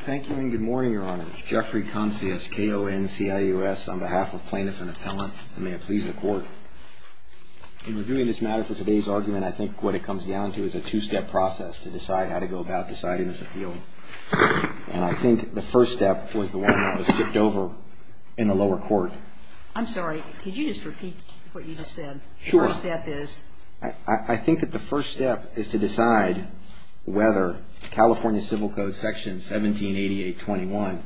Thank you and good morning, Your Honors. Jeffrey Concius, KONCIUS, on behalf of Plaintiff and Appellant, and may it please the Court. In reviewing this matter for today's argument, I think what it comes down to is a two-step process to decide how to go about deciding this appeal. And I think the first step was the one that was skipped over in the lower court. I'm sorry, could you just repeat what you just said? Sure. The first step is? I think that the first step is to decide whether California Civil Code Section 178821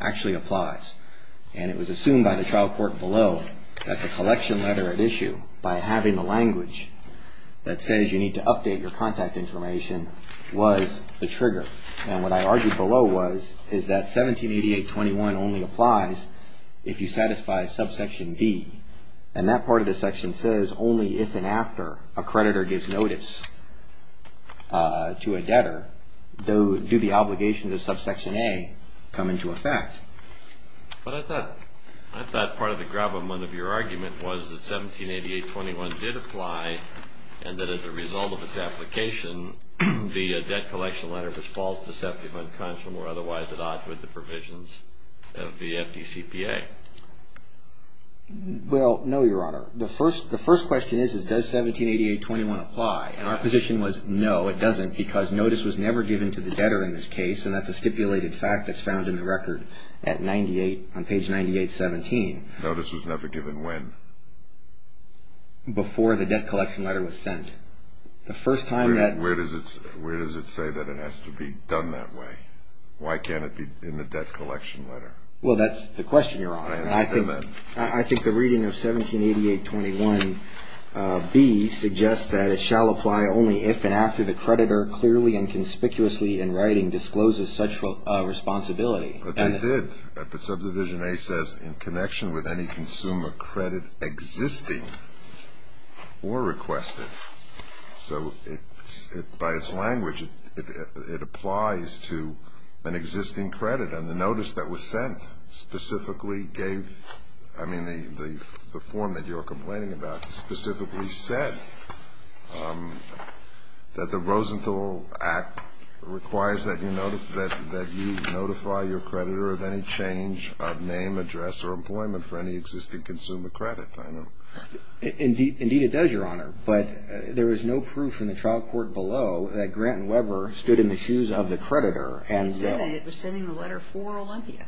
actually applies. And it was assumed by the trial court below that the collection letter at issue, by having the language that says you need to update your contact information, was the trigger. And what I argued below was, is that 178821 only applies if you satisfy subsection B. And that part of the section says only if and after a creditor gives notice to a debtor do the obligations of subsection A come into effect. But I thought part of the gravamen of your argument was that 178821 did apply, and that as a result of its application, the debt collection letter was false, deceptive, unconscionable, or otherwise at odds with the provisions of the FDCPA. Well, no, Your Honor. The first question is, does 178821 apply? And our position was, no, it doesn't, because notice was never given to the debtor in this case, and that's a stipulated fact that's found in the record on page 9817. Notice was never given when? Before the debt collection letter was sent. Where does it say that it has to be done that way? Why can't it be in the debt collection letter? Well, that's the question, Your Honor. I understand that. I think the reading of 178821B suggests that it shall apply only if and after the creditor clearly and conspicuously in writing discloses such a responsibility. But they did. Subdivision A says in connection with any consumer credit existing or requested. So by its language, it applies to an existing credit. And the notice that was sent specifically gave the form that you're complaining about specifically said that the Rosenthal Act requires that you notify your creditor of any change of name, address, or employment for any existing consumer credit. Indeed, it does, Your Honor. But there is no proof in the trial court below that Grant and Weber stood in the shoes of the creditor. It said that it was sending the letter for Olympia.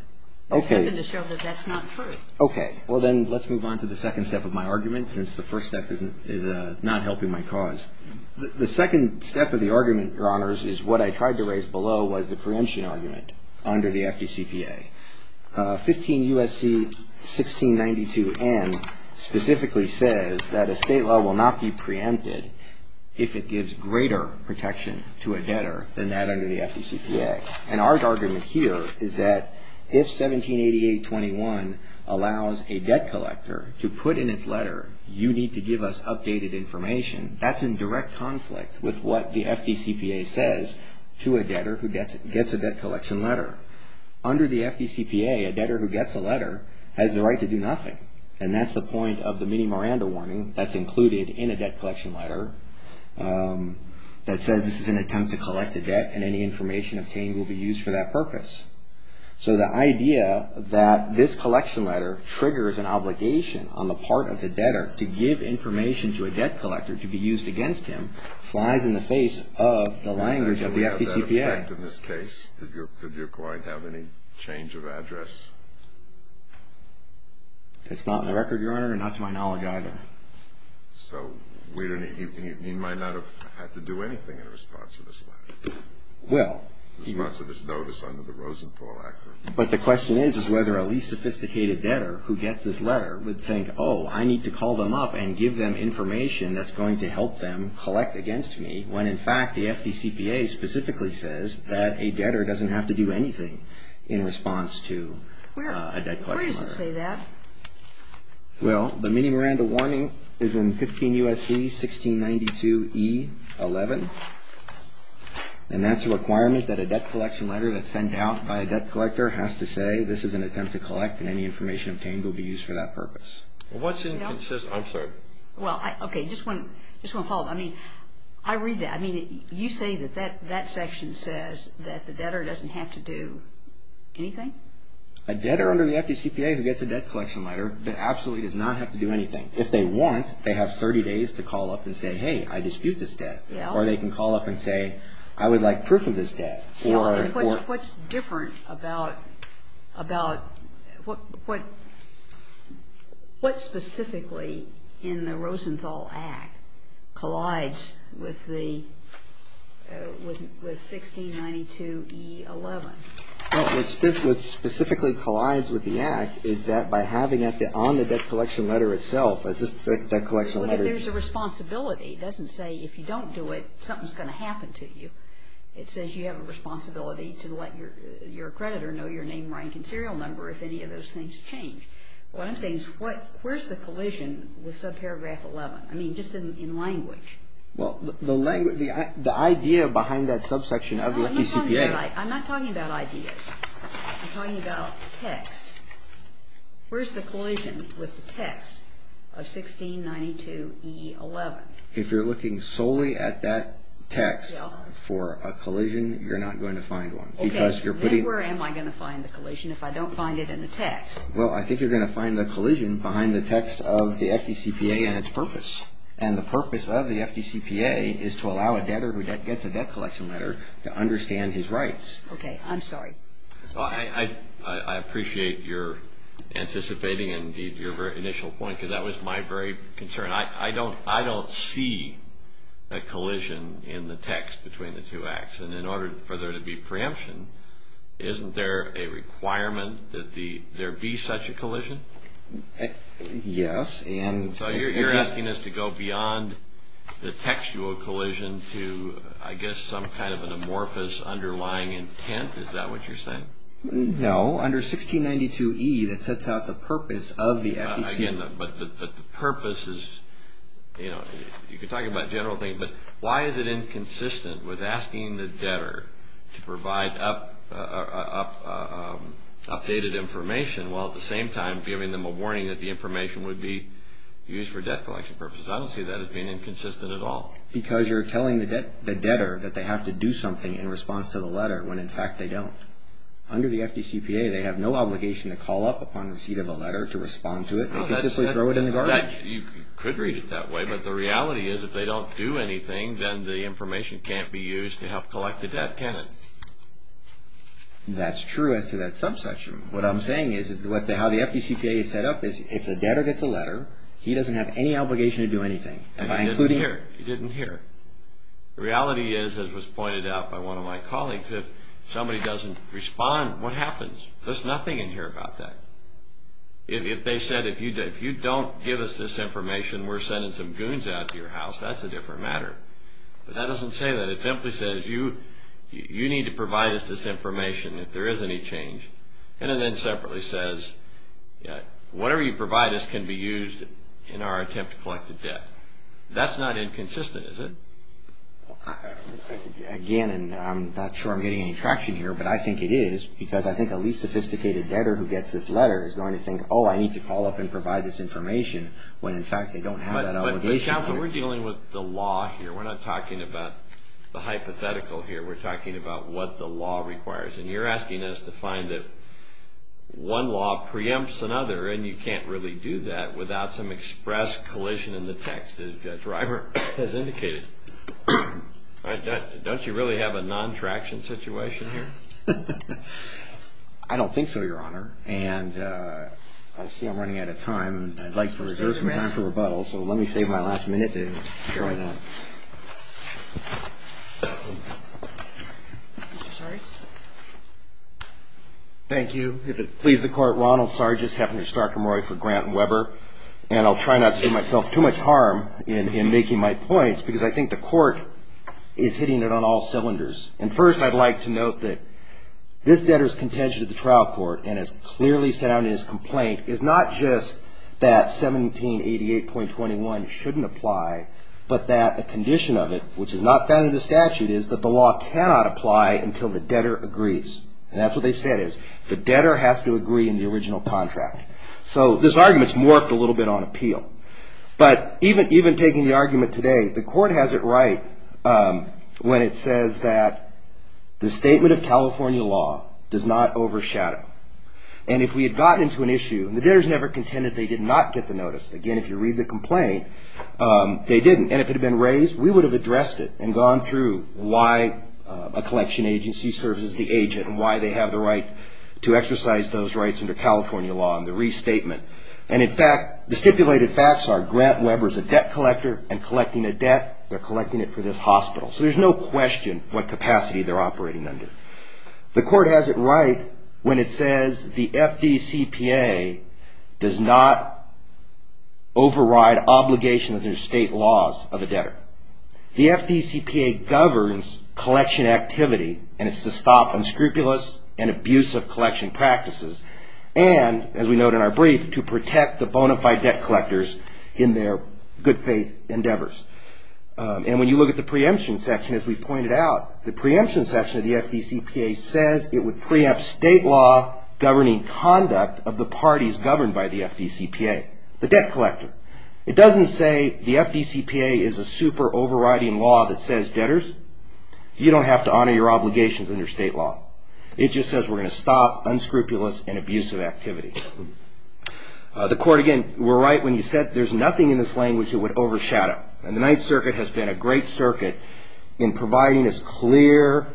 Okay. It happened to show that that's not true. Okay. Well, then let's move on to the second step of my argument, since the first step is not helping my cause. The second step of the argument, Your Honors, is what I tried to raise below was the preemption argument under the FDCPA. 15 U.S.C. 1692N specifically says that a state law will not be preempted if it gives greater protection to a debtor than that under the FDCPA. And our argument here is that if 178821 allows a debt collector to put in its letter, you need to give us updated information. That's in direct conflict with what the FDCPA says to a debtor who gets a debt collection letter. Under the FDCPA, a debtor who gets a letter has the right to do nothing. And that's the point of the mini Miranda warning that's included in a debt collection letter that says this is an attempt to collect a debt and any information obtained will be used for that purpose. So the idea that this collection letter triggers an obligation on the part of the debtor to give information to a debt collector to be used against him flies in the face of the language of the FDCPA. In this case, did your client have any change of address? That's not in the record, Your Honor, and not to my knowledge either. So he might not have had to do anything in response to this letter, in response to this notice under the Rosenthal Act. But the question is whether a least sophisticated debtor who gets this letter would think, oh, I need to call them up and give them information that's going to help them collect against me when, in fact, the FDCPA specifically says that a debtor doesn't have to do anything in response to a debt collection letter. Where does it say that? Well, the mini Miranda warning is in 15 U.S.C. 1692E11, and that's a requirement that a debt collection letter that's sent out by a debt collector has to say this is an attempt to collect and any information obtained will be used for that purpose. What's inconsistent? I'm sorry. Well, okay, just one follow-up. I mean, I read that. I mean, you say that that section says that the debtor doesn't have to do anything? A debtor under the FDCPA who gets a debt collection letter absolutely does not have to do anything. If they want, they have 30 days to call up and say, hey, I dispute this debt. Yeah. Or they can call up and say, I would like proof of this debt. What's different about what specifically in the Rosenthal Act collides with the 1692E11? Well, what specifically collides with the Act is that by having it on the debt collection letter itself, it's just a debt collection letter. But there's a responsibility. It doesn't say if you don't do it, something's going to happen to you. It says you have a responsibility to let your creditor know your name, rank, and serial number if any of those things change. What I'm saying is where's the collision with subparagraph 11? I mean, just in language. Well, the idea behind that subsection of the FDCPA. I'm not talking about ideas. I'm talking about text. Where's the collision with the text of 1692E11? If you're looking solely at that text for a collision, you're not going to find one. Okay. Then where am I going to find the collision if I don't find it in the text? Well, I think you're going to find the collision behind the text of the FDCPA and its purpose. And the purpose of the FDCPA is to allow a debtor who gets a debt collection letter to understand his rights. Okay. I'm sorry. I appreciate your anticipating and your initial point because that was my very concern. I don't see a collision in the text between the two acts. And in order for there to be preemption, isn't there a requirement that there be such a collision? Yes. So you're asking us to go beyond the textual collision to, I guess, some kind of an amorphous underlying intent? Is that what you're saying? No. Under 1692E, that sets out the purpose of the FDCPA. But the purpose is, you know, you could talk about general things, but why is it inconsistent with asking the debtor to provide updated information while at the same time giving them a warning that the information would be used for debt collection purposes? I don't see that as being inconsistent at all. Because you're telling the debtor that they have to do something in response to the letter when, in fact, they don't. Under the FDCPA, they have no obligation to call up upon receipt of a letter to respond to it. They can simply throw it in the garbage. You could read it that way, but the reality is if they don't do anything, then the information can't be used to help collect the debt, can it? That's true as to that subsection. What I'm saying is how the FDCPA is set up is if the debtor gets a letter, he doesn't have any obligation to do anything. He didn't hear. He didn't hear. The reality is, as was pointed out by one of my colleagues, if somebody doesn't respond, what happens? There's nothing in here about that. If they said, if you don't give us this information, we're sending some goons out to your house, that's a different matter. But that doesn't say that. It simply says you need to provide us this information if there is any change. And it then separately says whatever you provide us can be used in our attempt to collect the debt. That's not inconsistent, is it? Again, and I'm not sure I'm getting any traction here, but I think it is because I think a least sophisticated debtor who gets this letter is going to think, oh, I need to call up and provide this information when, in fact, they don't have that obligation. But, counsel, we're dealing with the law here. We're not talking about the hypothetical here. We're talking about what the law requires. And you're asking us to find that one law preempts another, and you can't really do that without some express collision in the text, as the driver has indicated. Don't you really have a non-traction situation here? I don't think so, Your Honor. And I see I'm running out of time. I'd like to reserve some time for rebuttal, so let me save my last minute to try that. Thank you. If it pleases the Court, Ronald Sargis, Hefner, Stark & Roy for Grant & Weber. And I'll try not to do myself too much harm in making my points, because I think the Court is hitting it on all cylinders. And first, I'd like to note that this debtor's contention to the trial court, and it's clearly set out in his complaint, is not just that 1788.21 shouldn't apply, but that the condition of it, which is not found in the statute, is that the law cannot apply until the debtor agrees. And that's what they've said, is the debtor has to agree in the original contract. So this argument's morphed a little bit on appeal. But even taking the argument today, the Court has it right when it says that the statement of California law does not overshadow. And if we had gotten into an issue, and the debtors never contended they did not get the notice. Again, if you read the complaint, they didn't. And if it had been raised, we would have addressed it and gone through why a collection agency serves as the agent, and why they have the right to exercise those rights under California law, and the restatement. And in fact, the stipulated facts are Grant Weber's a debt collector, and collecting a debt, they're collecting it for this hospital. So there's no question what capacity they're operating under. The Court has it right when it says the FDCPA does not override obligations under state laws of a debtor. The FDCPA governs collection activity, and it's to stop unscrupulous and abusive collection practices. And, as we note in our brief, to protect the bona fide debt collectors in their good faith endeavors. And when you look at the preemption section, as we pointed out, the preemption section of the FDCPA says it would preempt state law governing conduct of the parties governed by the FDCPA, the debt collector. It doesn't say the FDCPA is a super overriding law that says debtors, you don't have to honor your obligations under state law. It just says we're going to stop unscrupulous and abusive activity. The Court, again, were right when you said there's nothing in this language that would overshadow. And the Ninth Circuit has been a great circuit in providing us clear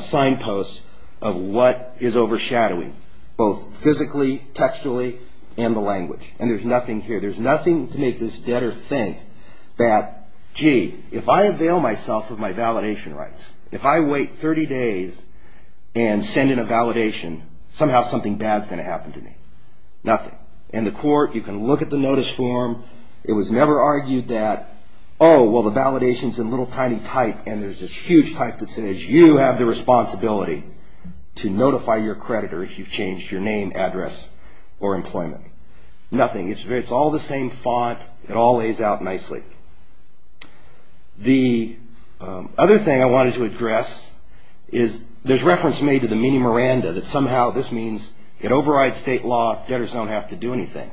signposts of what is overshadowing, both physically, textually, and the language. And there's nothing here. There's nothing to make this debtor think that, gee, if I avail myself of my validation rights, if I wait 30 days and send in a validation, somehow something bad's going to happen to me. Nothing. And the Court, you can look at the notice form. It was never argued that, oh, well, the validation's a little tiny type, and there's this huge type that says you have the responsibility to notify your creditor if you've changed your name, address, or employment. Nothing. It's all the same font. It all lays out nicely. The other thing I wanted to address is there's reference made to the mini Miranda, that somehow this means it overrides state law. Debtors don't have to do anything.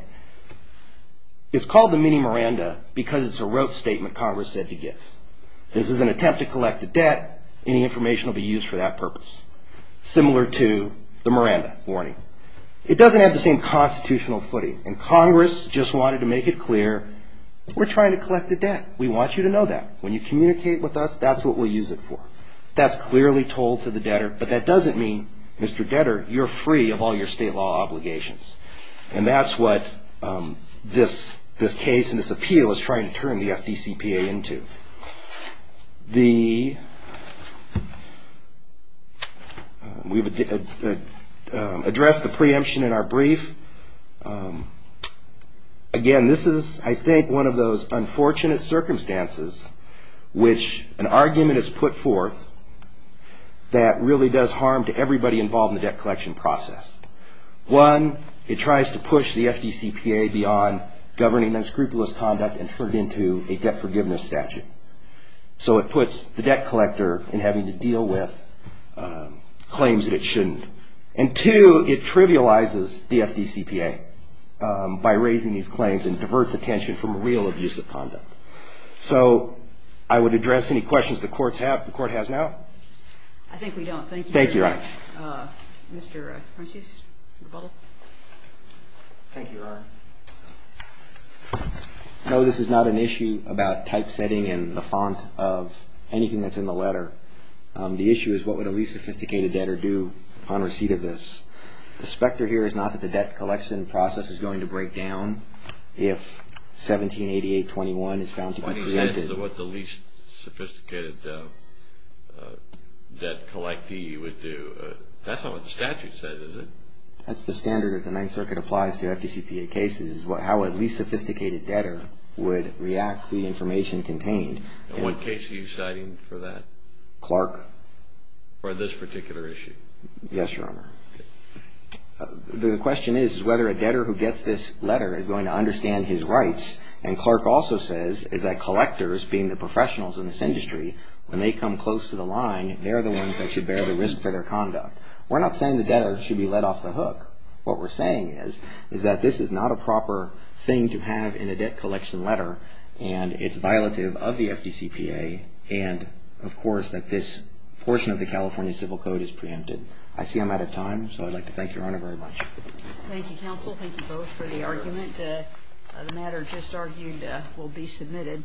It's called the mini Miranda because it's a rote statement Congress said to give. This is an attempt to collect a debt. Any information will be used for that purpose, similar to the Miranda warning. It doesn't have the same constitutional footing, and Congress just wanted to make it clear we're trying to collect a debt. We want you to know that. When you communicate with us, that's what we'll use it for. That's clearly told to the debtor, but that doesn't mean, Mr. Debtor, you're free of all your state law obligations. And that's what this case and this appeal is trying to turn the FDCPA into. We've addressed the preemption in our brief. Again, this is, I think, one of those unfortunate circumstances which an argument is put forth that really does harm to everybody involved in the debt collection process. One, it tries to push the FDCPA beyond governing unscrupulous conduct and turn it into a debt forgiveness statute. So it puts the debt collector in having to deal with claims that it shouldn't. And two, it trivializes the FDCPA by raising these claims and diverts attention from real abusive conduct. So I would address any questions the Court has now. I think we don't. Thank you very much. Thank you, Your Honor. Mr. Francis, rebuttal. Thank you, Your Honor. No, this is not an issue about typesetting and the font of anything that's in the letter. The issue is what would a least sophisticated debtor do upon receipt of this. The specter here is not that the debt collection process is going to break down if 178821 is found to be created. 20 cents is what the least sophisticated debt collectee would do. That's not what the statute says, is it? That's the standard that the Ninth Circuit applies to FDCPA cases, how a least sophisticated debtor would react to the information contained. And what case are you citing for that? Clark. For this particular issue? Yes, Your Honor. Okay. The question is whether a debtor who gets this letter is going to understand his rights, and Clark also says is that collectors, being the professionals in this industry, when they come close to the line, they're the ones that should bear the risk for their conduct. We're not saying the debtor should be let off the hook. What we're saying is that this is not a proper thing to have in a debt collection letter, and it's violative of the FDCPA, and, of course, that this portion of the California Civil Code is preempted. I see I'm out of time, so I'd like to thank Your Honor very much. Thank you, counsel. Thank you both for the argument. The matter just argued will be submitted.